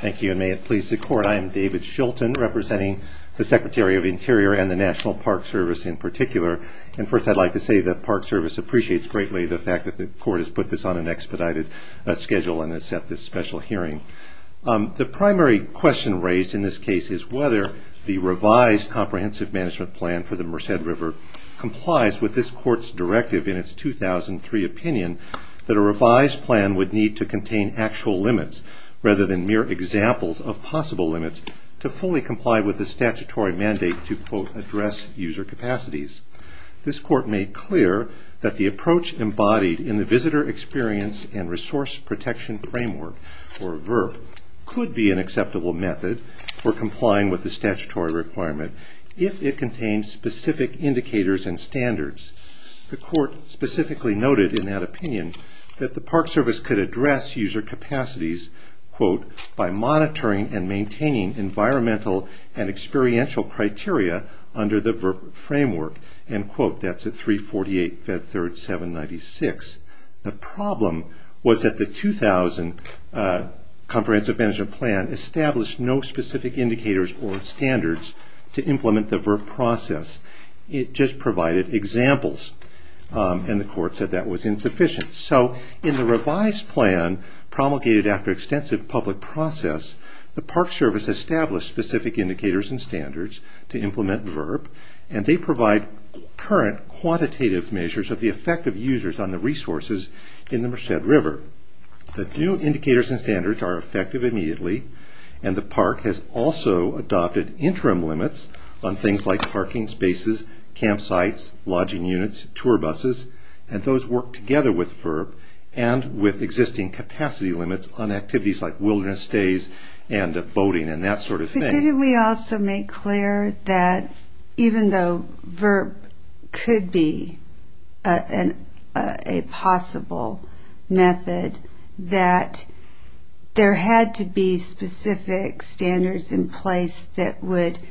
Thank you, and may it please the Court, I am David Shilton, representing the Secretary of Interior and the National Park Service in particular. And first I'd like to say that Park Service appreciates greatly the fact that the Court has put this on an expedited schedule and has set this special hearing. The primary question raised in this case is whether the revised comprehensive management plan for the Merced River complies with this Court's directive in its 2003 opinion that a revised plan would need to contain actual limits rather than mere examples of possible limits to fully comply with the statutory mandate to quote, address user capacities. This Court made clear that the approach embodied in the Visitor Experience and Resource Protection Framework, or VRP, could be an acceptable method for complying with the statutory requirement if it contains specific indicators and standards. The Court specifically noted in that opinion that the Park Service could address user capacities quote, by monitoring and maintaining environmental and experiential criteria under the VRP framework and quote, that's at 348 Fed Third 796. The problem was that the 2000 comprehensive management plan established no specific indicators or standards to implement the VRP process. It just provided examples, and the Court said that was insufficient. So, in the revised plan promulgated after extensive public process, the Park Service established specific indicators and standards to implement VRP, and they provide current quantitative measures of the effect of users on the resources in the Merced River. The new indicators and standards are effective immediately, and the Park has also adopted interim limits on things like parking spaces, campsites, lodging units, tour buses, and those work together with VRP and with existing capacity limits on activities like wilderness stays and voting and that sort of thing. But didn't we also make clear that even though VRP could be a possible method that there had to be specific standards in place that would,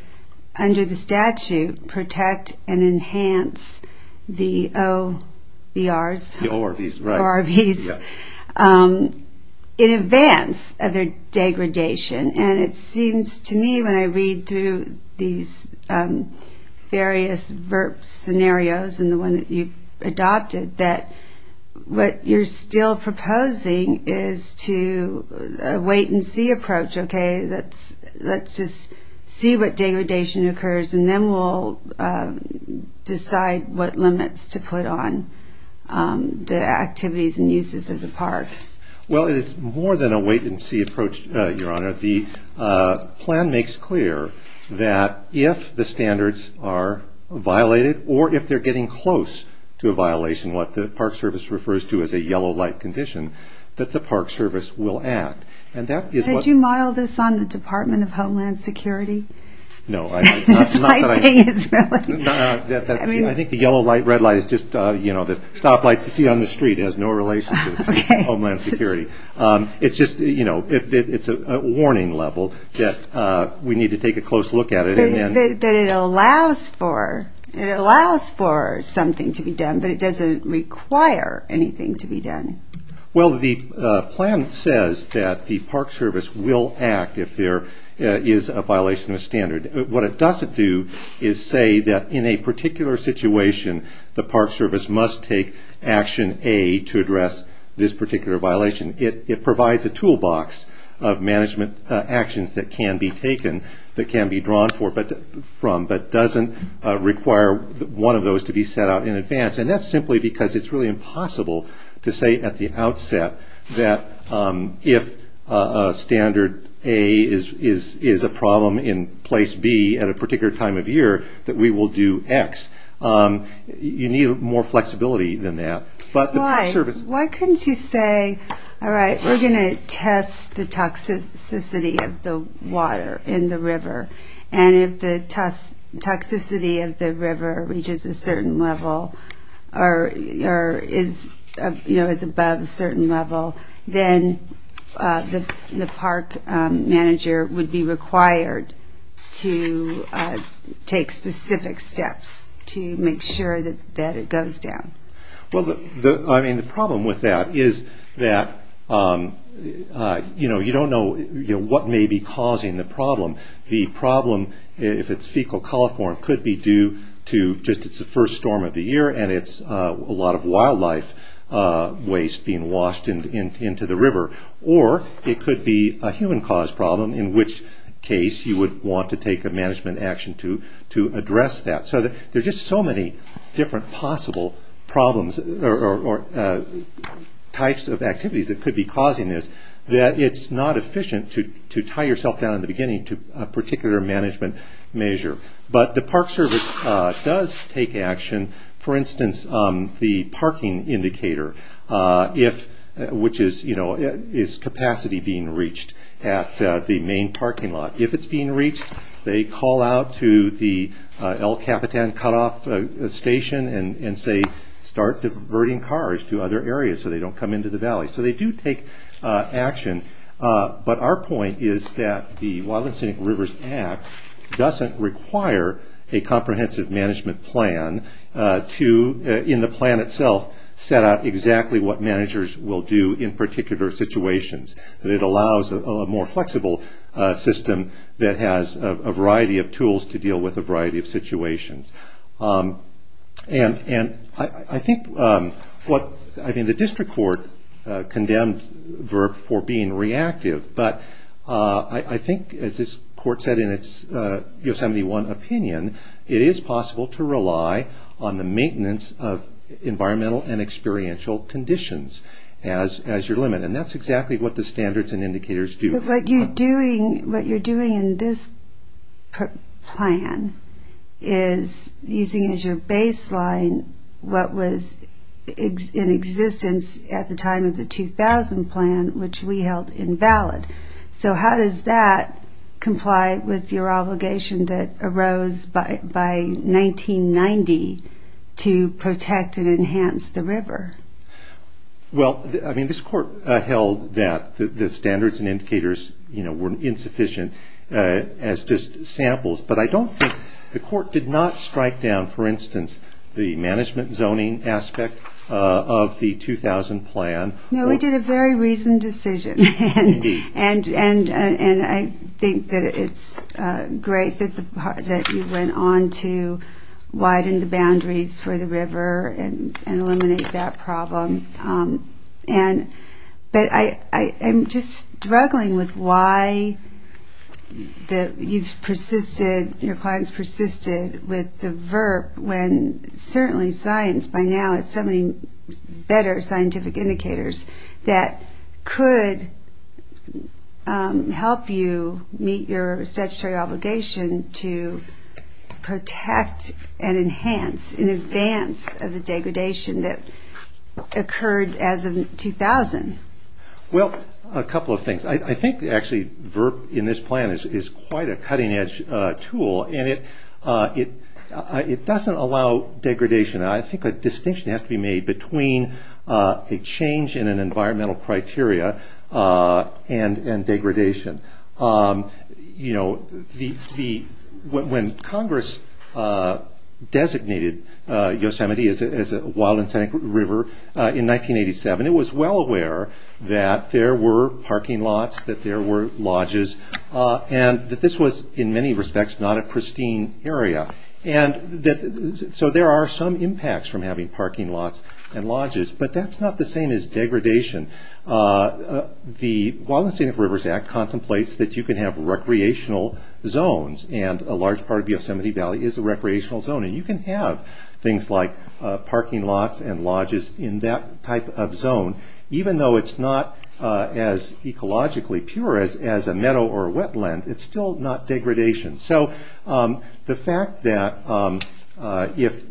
under the statute, protect and enhance the OBRs, the ORVs, in advance of their degradation, and it seems to me when I read through these various VRP scenarios, and the one that you've adopted, that what you're still proposing is to wait and see approach, okay, let's just see what degradation occurs, and then we'll decide what limits to put on the activities and uses of the Park. Well, it is more than a wait-and-see approach, Your Honor. The plan makes clear that if the standards are violated, or if they're getting close to a violation, what the Park Service refers to as a yellow light condition, that the Park Service will act, and that is what... Did you model this on the Department of Homeland Security? No. I think the yellow light, red light is just, you know, the stoplights you see on the street has no relation to Homeland Security. It's just, you know, it's a warning level that we need to take a close look at it. But it allows for something to be done, but it doesn't require anything to be done. Well, the plan says that the Park Service will act if there is a violation of standard. What it doesn't do is say that in a particular situation, the Park Service must take Action A to address this particular violation. It provides a toolbox of management actions that can be taken, that can be drawn from, but doesn't require one of those to be set out in advance, and that's simply because it's really impossible to say at the outset that if standard A is a problem in place B at a particular time of year, that we will do X. You need more flexibility than that. But the Park Service... Why couldn't you say, alright, we're going to test the toxicity of the water in the river, and if the toxicity of the river reaches a certain level, or is above a certain level, then the park manager would be required to take specific steps to make sure that it goes down. The problem with that is that you don't know what may be causing the problem. The problem, if it's fecal coliform, could be due to just the first storm of the year, and it's a lot of wildlife waste being washed into the river. Or it could be a human-caused problem, in which case you would want to take a management action to address that. So there's just so many different possible problems or types of activities that could be causing this that it's not efficient to tie yourself down in the beginning to a particular management measure. But the Park Service does take action. For instance, the parking indicator, which is capacity being reached at the main parking lot. If it's being reached, they call out to the El Capitan Cut-Off station and start diverting cars to other areas so they don't come into the valley. So they do take action, but our point is that the Wildlife and Scenic Rivers Act doesn't require a comprehensive management plan to, in the plan itself, set out exactly what managers will do in particular situations. It allows a more flexible system that has a variety of tools to deal with a variety of situations. I think the district court condemned VRB for being reactive, but I think, as this court said in its Yosemite One opinion, it is possible to rely on the maintenance of environmental and experiential conditions as your limit. And that's exactly what the standards and indicators do. But what you're doing in this plan is using as your baseline what was in existence at the time of the 2000 plan, which we held invalid. So how does that comply with your obligation that VRB to protect and enhance the river? Well, I mean, this court held that the standards and indicators were insufficient as just samples, but I don't think the court did not strike down, for instance, the management zoning aspect of the 2000 plan. No, we did a very reasoned decision. And I think that it's great that you went on to set boundaries for the river and eliminate that problem. But I'm just struggling with why you've persisted, your clients persisted with the VRB when certainly science by now has so many better scientific indicators that could help you meet your statutory obligation to protect and enhance in advance of the degradation that occurred as of 2000. Well, a couple of things. I think actually VRB in this plan is quite a cutting-edge tool. And it doesn't allow degradation. I think a distinction has to be made between a change in an environmental criteria and degradation. You know, when Congress designated Yosemite as a wild and scenic river in 1987, it was well aware that there were parking lots, that there were lodges, and that this was, in many respects, not a pristine area. So there are some impacts from having parking lots and lodges, but that's not the same as degradation. The Wild and Scenic Rivers Act contemplates that you can have recreational zones, and a large part of Yosemite Valley is a recreational zone, and you can have things like parking lots and lodges in that type of zone, even though it's not as ecologically pure as a meadow or a wetland, it's still not degradation. So the fact that if,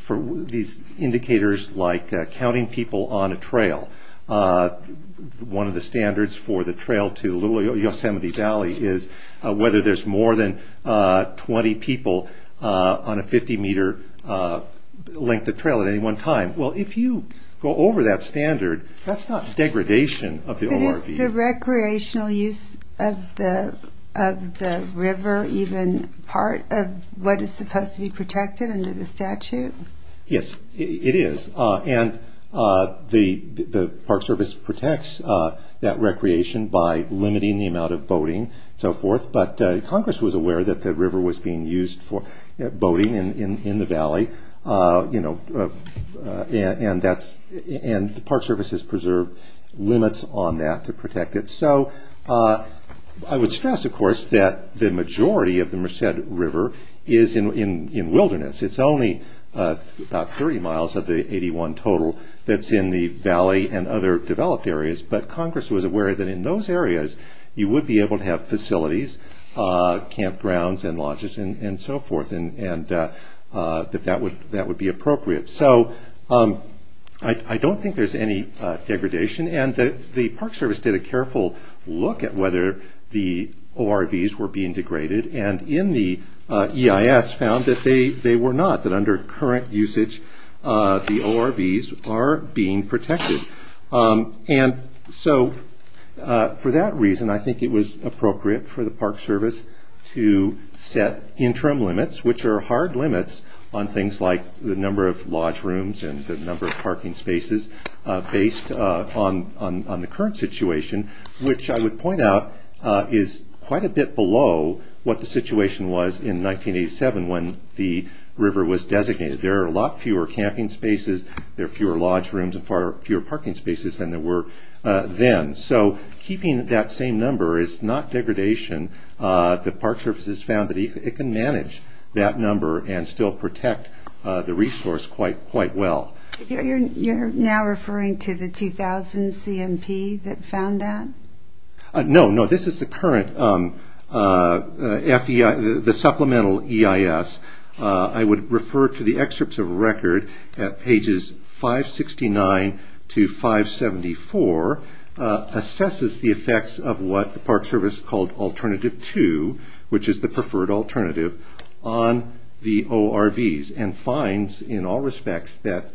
for these indicators like counting people on a trail, one of the standards for the trail to Yosemite Valley is whether there's more than 20 people on a 50 meter length of trail at any one time. Well, if you go over that standard, that's not degradation of the ORB. But is the recreational use of the river even part of what is supposed to be protected under the statute? Yes, it is, and the Park Service protects that recreation by limiting the amount of boating and so forth, but Congress was aware that the river was being used for boating in the valley, and the Park Service has preserved limits on that to protect it. So, I would stress, of course, that the majority of the Merced River is in wilderness. It's only about 30 miles of the 81 total that's in the valley and other developed areas, but Congress was aware that in those areas you would be able to have facilities, campgrounds and lodges and so forth, and that would be appropriate. So, I don't think there's any degradation, and the Park Service did a careful look at whether the ORBs were being degraded, and in the EIS found that they were not, that under current usage, the ORBs are being protected. And so, for that reason, I think it was appropriate for the Park Service to set interim limits, which are hard limits on things like the number of lodge rooms and the number of parking spaces based on the current situation, which I would point out is quite a bit below what the situation was in 1987 when the river was designated. There are a lot fewer camping spaces, there are fewer lodge rooms, and far fewer parking spaces than there were then. So, keeping that same number is not degradation. The Park Service has found that it can manage that number and still protect the resource quite well. You're now referring to the 2000 CMP that found that? No, this is the current supplemental EIS. I would refer to the excerpts of record at pages 569 to 574, assesses the effects of what the Park Service called Alternative 2, which is the preferred alternative, on the ORVs and finds in all respects that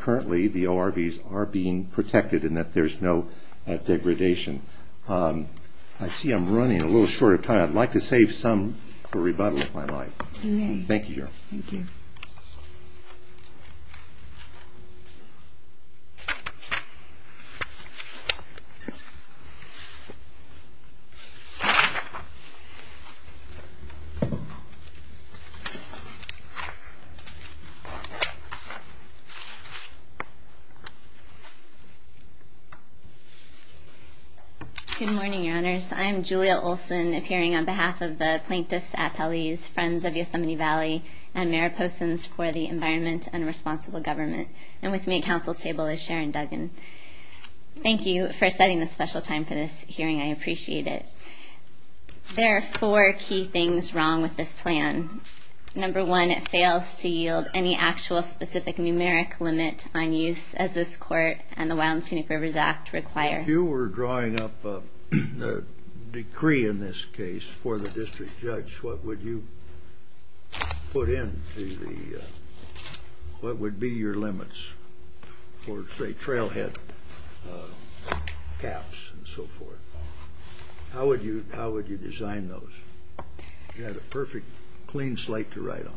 currently the ORVs are being protected and that there's no degradation. I see I'm running a little short of time. I'd like to save some for rebuttal, if I might. Thank you, Your Honor. Good morning, Your Honors. I'm Julia Olson, appearing on behalf of the Plaintiffs' Appellees, Friends of Yosemite Valley, and Mariposans for the Environment and Responsible Government. And with me at counsel's table is Sharon Duggan. Thank you for setting this special time for this hearing. I appreciate it. There are four key things wrong with this plan. Number one, it fails to yield any actual specific numeric limit on use, as this Court and the Wild and Scenic Rivers Act require. If you were drawing up a decree in this case for the district judge, what would you put in to the, what would be your limits for, say, trailhead caps and so forth? How would you design those? You had a perfect, clean slate to write on.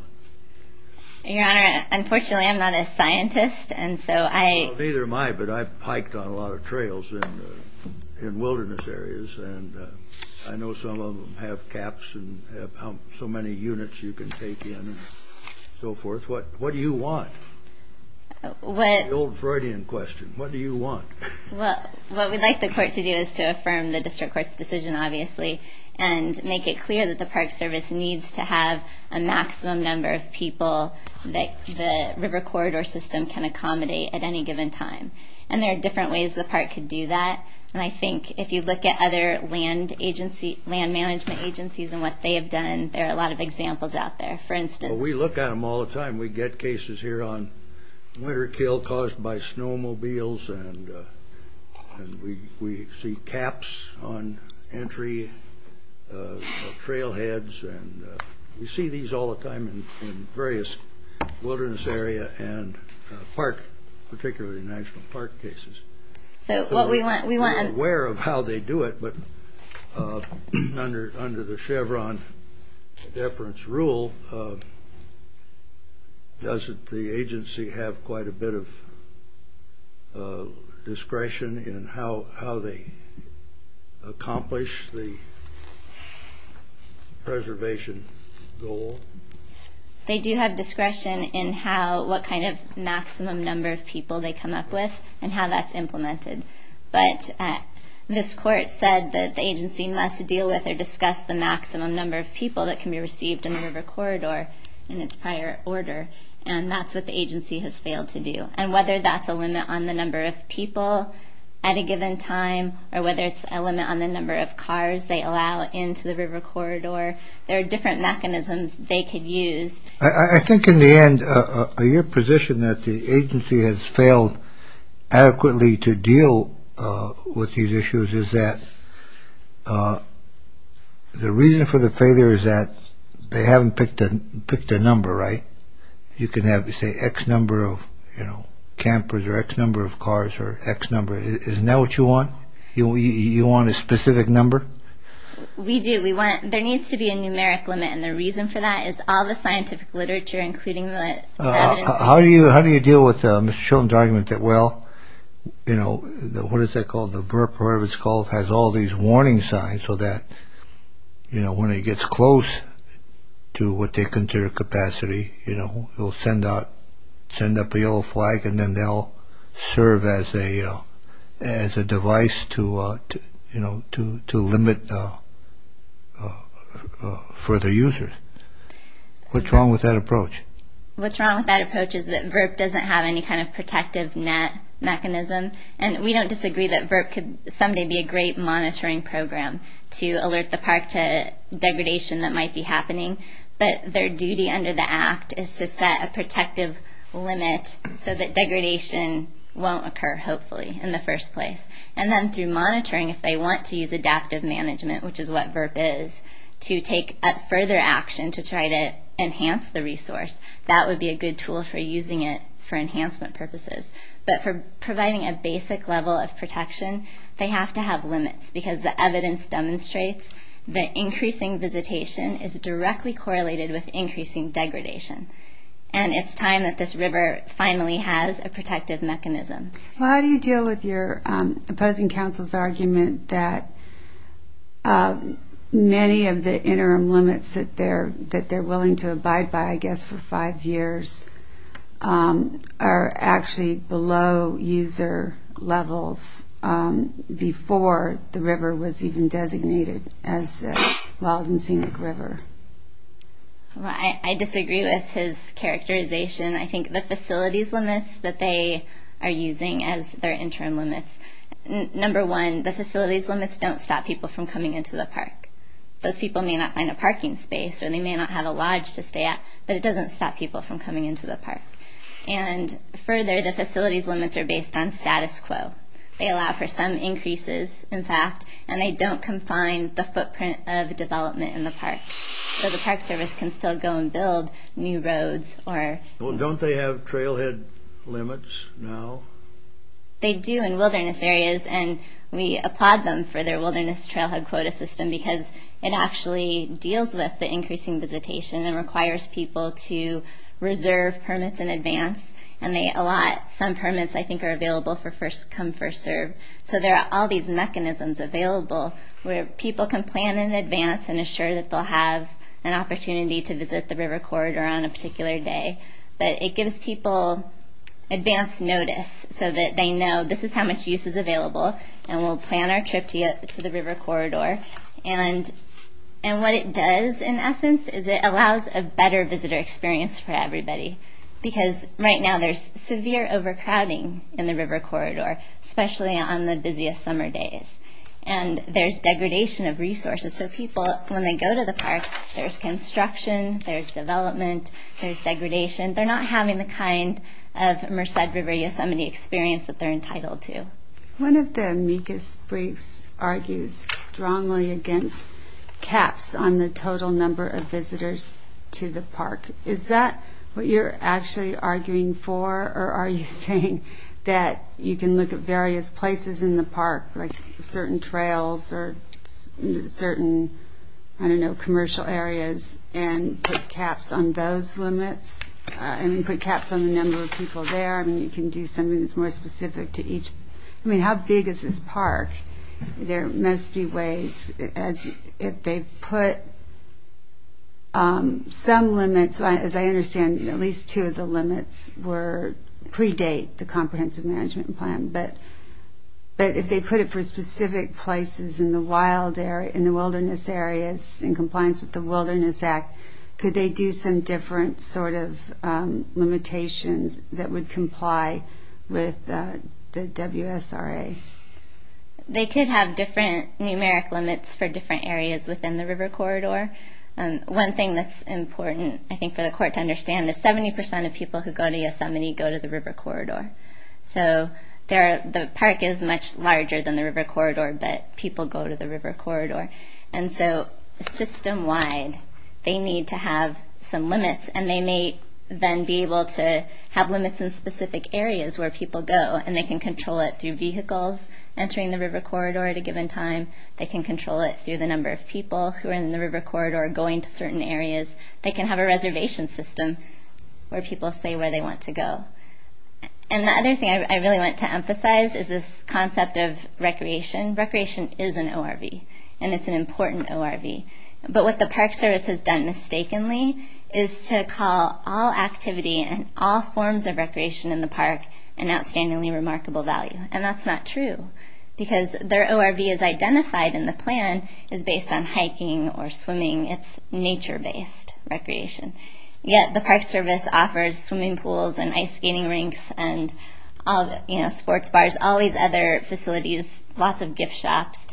Your Honor, unfortunately I'm not a scientist, and so I... I don't know much about trails in wilderness areas, and I know some of them have caps and have so many units you can take in, and so forth. What do you want? The old Freudian question. What do you want? Well, what we'd like the Court to do is to affirm the district court's decision, obviously, and make it clear that the Park Service needs to have a maximum number of people that the river corridor system can accommodate at any given time. And there are different ways the Park could do that, and I think if you look at other land agency, land management agencies and what they have done, there are a lot of examples out there. For instance... Well, we look at them all the time. We get cases here on winter kill caused by snowmobiles, and we see caps on entry trailheads, and we see these all the time in various wilderness areas, and park, particularly national park cases. We're aware of how they do it, but under the Chevron deference rule, doesn't the agency have quite a bit of discretion in how they accomplish the preservation goal? They do have discretion in what kind of maximum number of people they come up with and how that's implemented. But this Court said that the agency must deal with or discuss the maximum number of people that can be received in the river corridor in its prior order, and that's what the agency has failed to do. And whether that's a limit on the number of people at a given time, or whether it's a limit on the number of cars they allow into the river corridor, there are different mechanisms they could use. I think in the end, your position that the agency has failed adequately to deal with these issues is that the reason for the failure is that they haven't picked a number, right? You can have, say, X number of campers or X number of cars or X number. Isn't that what you want? You want a specific number? We do. There needs to be a numeric limit, and the reason for that is all the scientific literature, including the evidence. How do you deal with Mr. Chilton's argument that, well, what is that called? The burp or whatever it's called has all these warning signs so that when it gets close to what they consider capacity, it will send out, send up a yellow flag and then they'll serve as a device to limit further users. What's wrong with that approach? What's wrong with that approach is that VRP doesn't have any kind of protective net mechanism, and we don't disagree that VRP could someday be a great monitoring program to alert the park to degradation that might be happening, but their duty under the Act is to set a protective limit so that degradation won't occur, hopefully, in the first place. And then through monitoring, if they want to use adaptive management, which is what VRP is, to take further action to try to enhance the resource, that would be a good tool for using it for enhancement purposes. But for providing a basic level of protection, they have to have limits because the evidence demonstrates that increasing visitation is directly correlated with increasing degradation. And it's time that this river finally has a protective mechanism. Well, how do you deal with your cousin council's argument that many of the interim limits that they're willing to abide by I guess for five years are actually below user levels before the river was even designated as a wild and scenic river? I disagree with his characterization. I think the facilities limits that they are using as their interim limits, number one, the facilities limits don't stop people from coming into the park. Those people may not find a parking space or they may not have a lodge to stay at, but it doesn't stop people from coming into the park. And further, the facilities limits are based on status quo. They allow for some increases, in fact, and they don't confine the footprint of development in the park. So the Park Service can still go and build new roads or... Well, don't they have trailhead limits now? They do in wilderness areas, and we applaud them for their wilderness trailhead quota system because it actually deals with the increasing visitation and requires people to reserve permits in advance, and they allot some permits I think are available for first come, first serve. So there are all these mechanisms available where people can plan in advance and assure that they'll have an opportunity to visit the river corridor on a particular day. But it gives people advance notice so that they know this is how much use is available, and we'll plan our trip to the river corridor. And what it does, in essence, is it allows a better visitor experience for everybody because right now there's severe overcrowding in the river corridor, especially on the busiest summer days. And there's degradation of resources. So people, when they go to the park, there's construction, there's degradation. They're not having the kind of Merced River Yosemite experience that they're entitled to. One of the amicus briefs argues strongly against caps on the total number of visitors to the park. Is that what you're actually arguing for, or are you saying that you can look at various places in the park, like certain trails or certain, I don't know, commercial areas, and put caps on those limits, and put caps on the number of people there? I mean, you can do something that's more specific to each. I mean, how big is this park? There must be ways, if they put some limits, as I understand, at least two of the limits predate the Comprehensive Management Plan, but if they put it for specific places in the wilderness areas in compliance with the Wilderness Act, could they do some different sort of limitations that would comply with the WSRA? They could have different numeric limits for different areas within the river corridor. One thing that's important, I think, for the court to understand is 70% of people who go to Yosemite go to the river corridor. So, the park is much larger than the river corridor, but people go to the river corridor. And so, system-wide, they need to have some limits, and they may then be able to have limits in specific areas where people go, and they can control it through vehicles entering the river corridor at a given time. They can control it through the number of people who are in the river corridor going to certain areas. They can have a reservation system where people say where they want to go. And the other thing I really want to emphasize is this concept of recreation. Recreation is an ORV, and it's an important ORV. But what the Park Service has done mistakenly is to call all activity and all forms of recreation in the park an outstandingly remarkable value. And that's not true, because their ORV is identified in the plan as based on hiking or swimming. It's nature-based recreation. Yet, the Park Service offers swimming pools and ice skating rinks and sports bars, all these other facilities, lots of gift shops,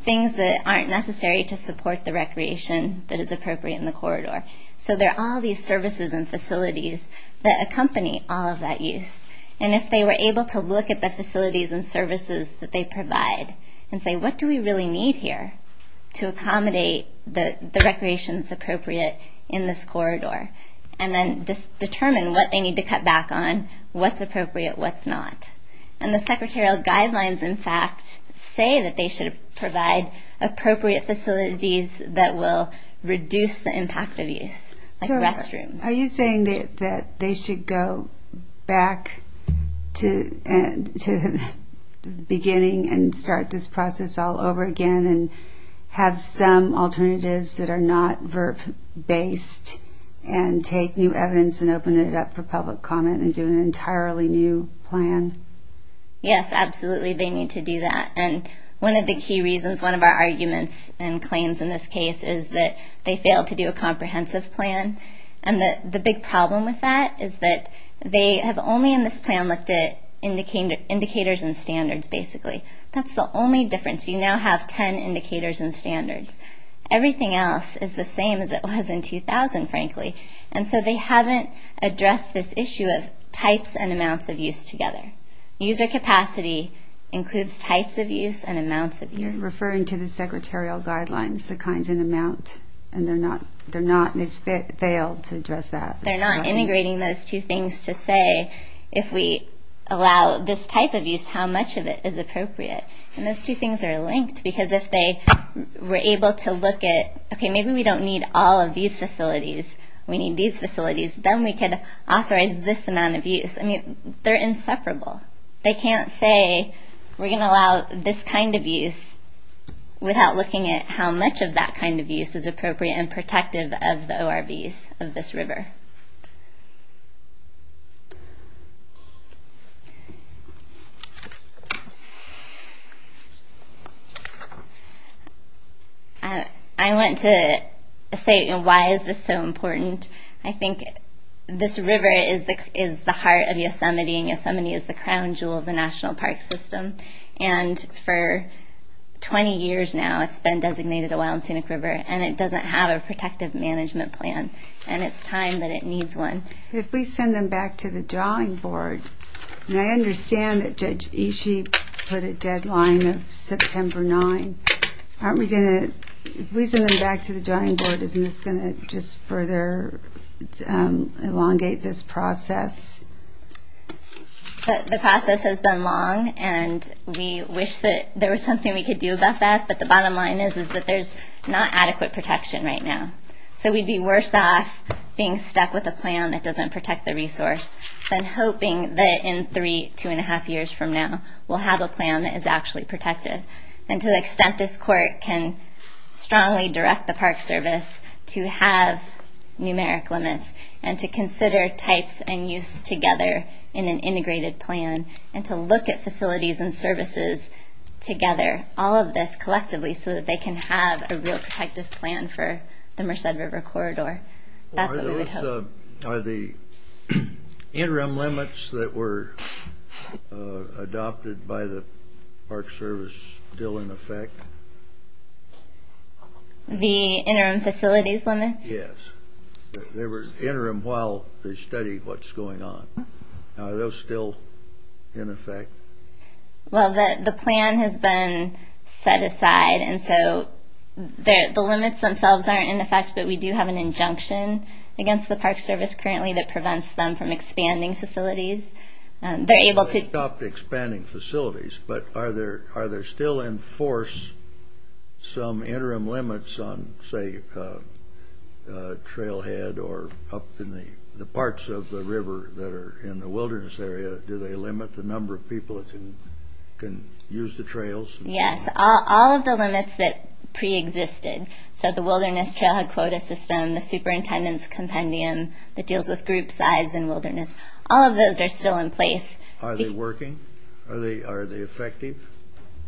things that aren't necessary to support the recreation that is appropriate in the corridor. So there are all these services and facilities that accompany all of that use. And if they were able to look at the facilities and services that they provide and say, what do we really need here to accommodate the recreation that's appropriate in this corridor, and then determine what they need to cut back on, what's appropriate, what's not. And the secretarial guidelines, in fact, say that they should provide appropriate facilities that will reduce the impact of use, like restrooms. Are you saying that they should go back to the beginning and start this process all over again and have some alternatives that are not verb-based and take new evidence and open it up for public comment and do an entirely new plan? Yes, absolutely, they need to do that. And one of the key reasons, one of our arguments and claims in this case is that they failed to do a comprehensive plan. And the big problem with that is that they have only in this plan looked at indicators and standards, basically. That's the only difference. You now have 10 indicators and standards. Everything else is the same as it was in 2000, frankly. And so they haven't addressed this issue of types and amounts of use together. User capacity includes types of use and amounts of use. You're referring to the secretarial guidelines, the kinds and amounts. And they're not, they failed to address that. They're not integrating those two things to say, if we allow this type of use, how much of it is appropriate. And those two things are linked because if they were able to look at, okay, maybe we don't need all of these facilities. We need these facilities. Then we could authorize this amount of use. I mean, they're inseparable. They can't say we're going to allow this kind of use without looking at how much of that kind of use is appropriate and protective of the ORVs of this river. I went to say, why is this so important? I think this river is the heart of Yosemite and Yosemite is the crown jewel of the National Park System. And for 20 years now, it's been designated a Wild Scenic River. And it doesn't have a protective management plan. And it's time that the National Park System make a plan that it needs one. If we send them back to the drawing board, and I understand that Judge Ishii put a deadline of September 9, aren't we going to, if we send them back to the drawing board, isn't this going to just further elongate this process? The process has been long and we wish that there was something we could do about that. But the bottom line is that there's not adequate protection right now. So we'd be worse off being stuck with a plan that doesn't protect the resource than hoping that in three, two and a half years from now, we'll have a plan that is actually protective. And to the extent this court can strongly direct the Park Service to have numeric limits and to consider types and use together in an integrated plan and to look at facilities and services together, all of this collectively so that they can have a real protective plan for the Merced River Corridor. That's what we would hope. Are the interim limits that were adopted by the Park Service still in effect? The interim facilities limits? Yes. They were interim while they studied what's going on. Are those still in effect? Well, the plan has been set aside and so the limits themselves aren't in effect, but we do have an injunction against the Park Service currently that prevents them from expanding facilities. They're able to... They stopped expanding facilities, but are there still in force some interim limits on, say, trailhead in this area? Do they limit the number of people that can use the trails? Yes. All of the limits that preexisted, so the Wilderness Trailhead Quota System, the Superintendent's Compendium that deals with group size in wilderness, all of those are still in place. Are they working? Are they effective?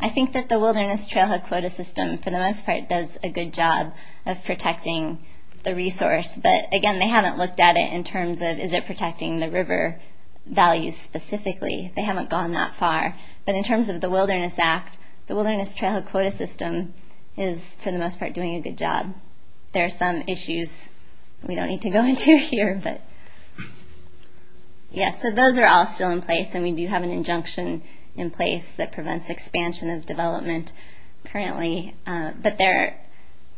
I think that the Wilderness Trailhead Quota System, for the most part, does a good job of protecting the resource, but again, they haven't looked at it in terms of is it protecting the river values specifically? They haven't gone that far, but in terms of the Wilderness Act, the Wilderness Trailhead Quota System is, for the most part, doing a good job. There are some issues we don't need to go into here, but yes, so those are all still in place and we do have an injunction in place that prevents expansion of development currently, but there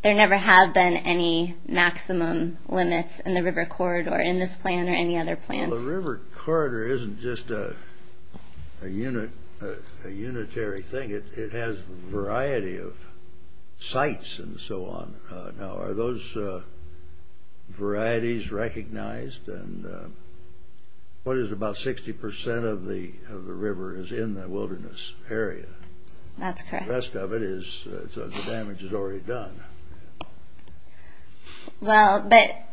never have been any maximum limits in the river corridor in this plan or any other plan. Well, the river corridor isn't just a unitary thing. It has a variety of sites and so on. Now, are those varieties recognized? What is it, about 60% of the river is in the wilderness area? That's correct. The rest of it, the damage is already done. Well, but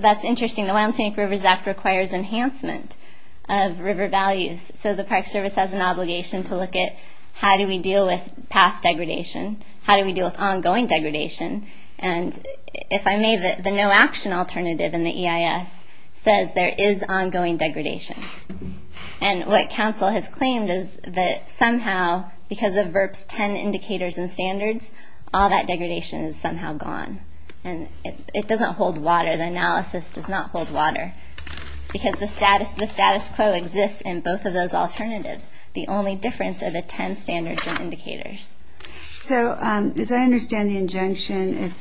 that's interesting. The Wild and Scenic Rivers Act requires enhancement of river values so the Park Service has an obligation to look at how do we deal with past degradation, how do we deal with ongoing degradation, and if I may, the no action alternative in the EIS says there is ongoing degradation, and what council has claimed is that somehow, because of VERPS 10 indicators and it doesn't hold water, the analysis does not hold water, because the status quo exists in both of those alternatives. The only difference are the 10 standards and indicators. So, as I understand the injunction,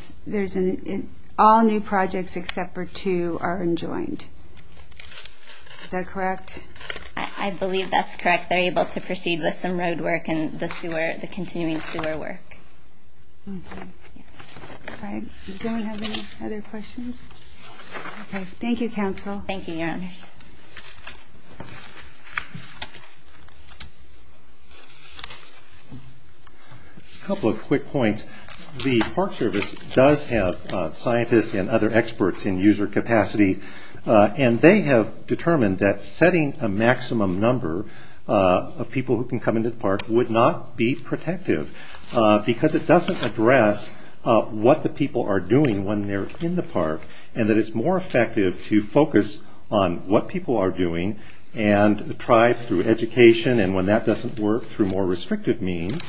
all new projects except for two are enjoined. Is that correct? I believe that's correct. They're able to proceed with some road work and the continuing sewer work. Does anyone have any other questions? Thank you, Council. Thank you, Your Honors. A couple of quick points. The Park Service does have scientists and other experts in user capacity, and they have determined that setting a maximum number of people who can come into the park would not be protective, because it doesn't address what the people are doing when they're in the park, and that it's more effective to focus on what people are doing and try through education, and when that doesn't work, through more restrictive means,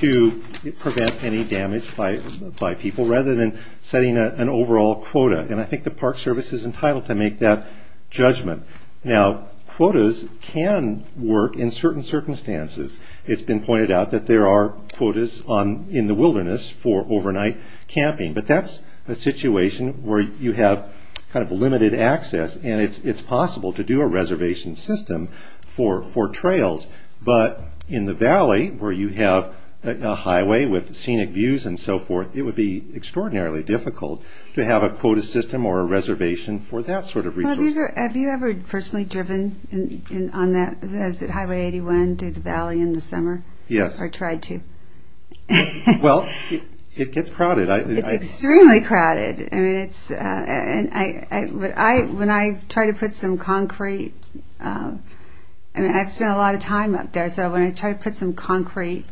to prevent any damage by people, rather than setting an overall quota, and I think the Park Service is entitled to make that judgment. Now, quotas can work in certain circumstances. It's been pointed out that there are quotas in the wilderness for overnight camping, but that's a situation where you have kind of limited access, and it's possible to do a reservation system for trails, but in the valley, where you have a highway with scenic views and so forth, it would be extraordinarily difficult to have a quota system or a reservation for that sort of resource. Have you ever personally driven on Highway 81 through the valley in the summer? Yes. Or tried to? Well, it gets crowded. It's extremely crowded. When I try to put some concrete I've spent a lot of time up there, so when I try to put some concrete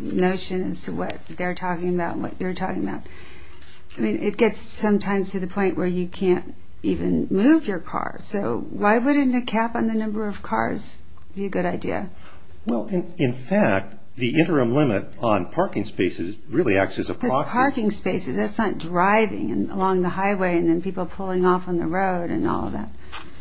notion as to what they're talking about and what you're talking about, it gets sometimes to the point where you can't even move your car. So why wouldn't a cap on the number of cars be a good idea? Well, in fact, the interim limit on parking spaces really acts as a proxy. Because parking spaces, that's not driving along the highway and then people pulling off on the road and all of that.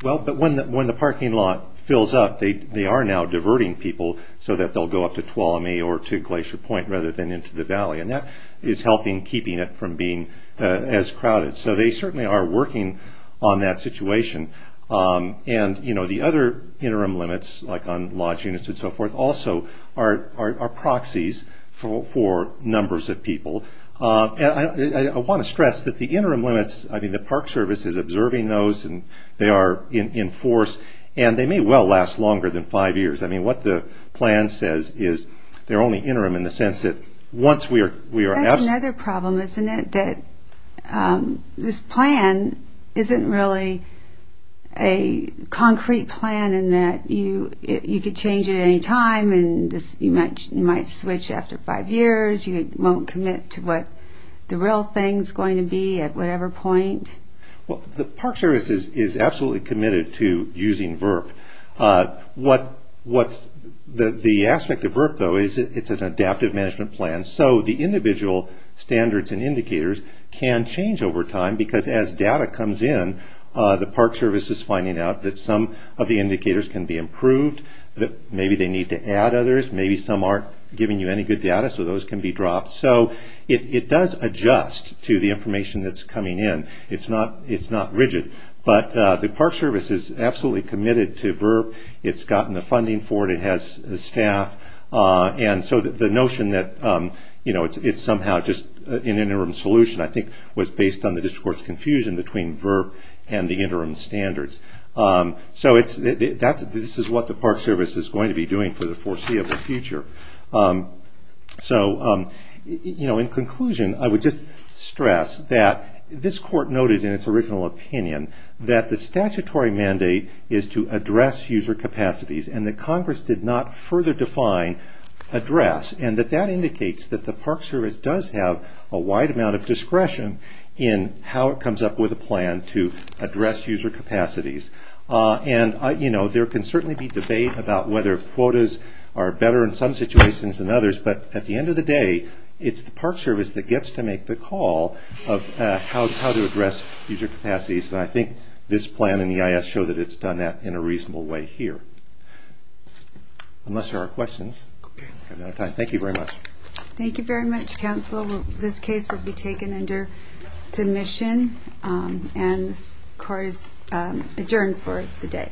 Well, but when the parking lot fills up, they are now diverting people so that they'll go up to Tuolumne or to Glacier Point rather than into the valley, and that is helping keeping it from being as crowded. So they certainly are working on that situation. And, you know, the other interim limits, like on lodge units and so forth, also are proxies for numbers of people. I want to stress that the interim limits, I mean the Park Service is observing those and they are in force, and they may well last longer than five years. I mean, what the plan says is they're only interim in the sense that once we are... That's another problem, isn't it? That this plan isn't really a concrete plan in that you could change it at any time, and you might switch after five years, you won't commit to what the real thing is going to be at whatever point. Well, the Park Service is absolutely committed to using VRP. The aspect of VRP, though, is it's an adaptive management plan, so the indicators can change over time, because as data comes in, the Park Service is finding out that some of the indicators can be improved, that maybe they need to add others, maybe some aren't giving you any good data, so those can be dropped. So it does adjust to the information that's coming in. It's not rigid, but the Park Service is absolutely committed to VRP. It's gotten the funding for it, it has staff, and so the notion that it's somehow just an interim solution, I think, was based on the District Court's confusion between VRP and the interim standards. So this is what the Park Service is going to be doing for the foreseeable future. In conclusion, I would just stress that this Court noted in its original opinion that the statutory mandate is to address user capacities, and that Congress did not further define address, and that that indicates that the Park Service does have a wide amount of discretion in how it comes up with a plan to address user capacities. There can certainly be debate about whether quotas are better in some situations than others, but at the end of the day, it's the Park Service that gets to make the call of how to address user capacities, and I think this plan and the EIS show that it's done that in a reasonable way here. Unless there are questions, I'm out of time. Thank you very much. Thank you very much, Counsel. This case will be taken under submission, and this Court is adjourned for the day.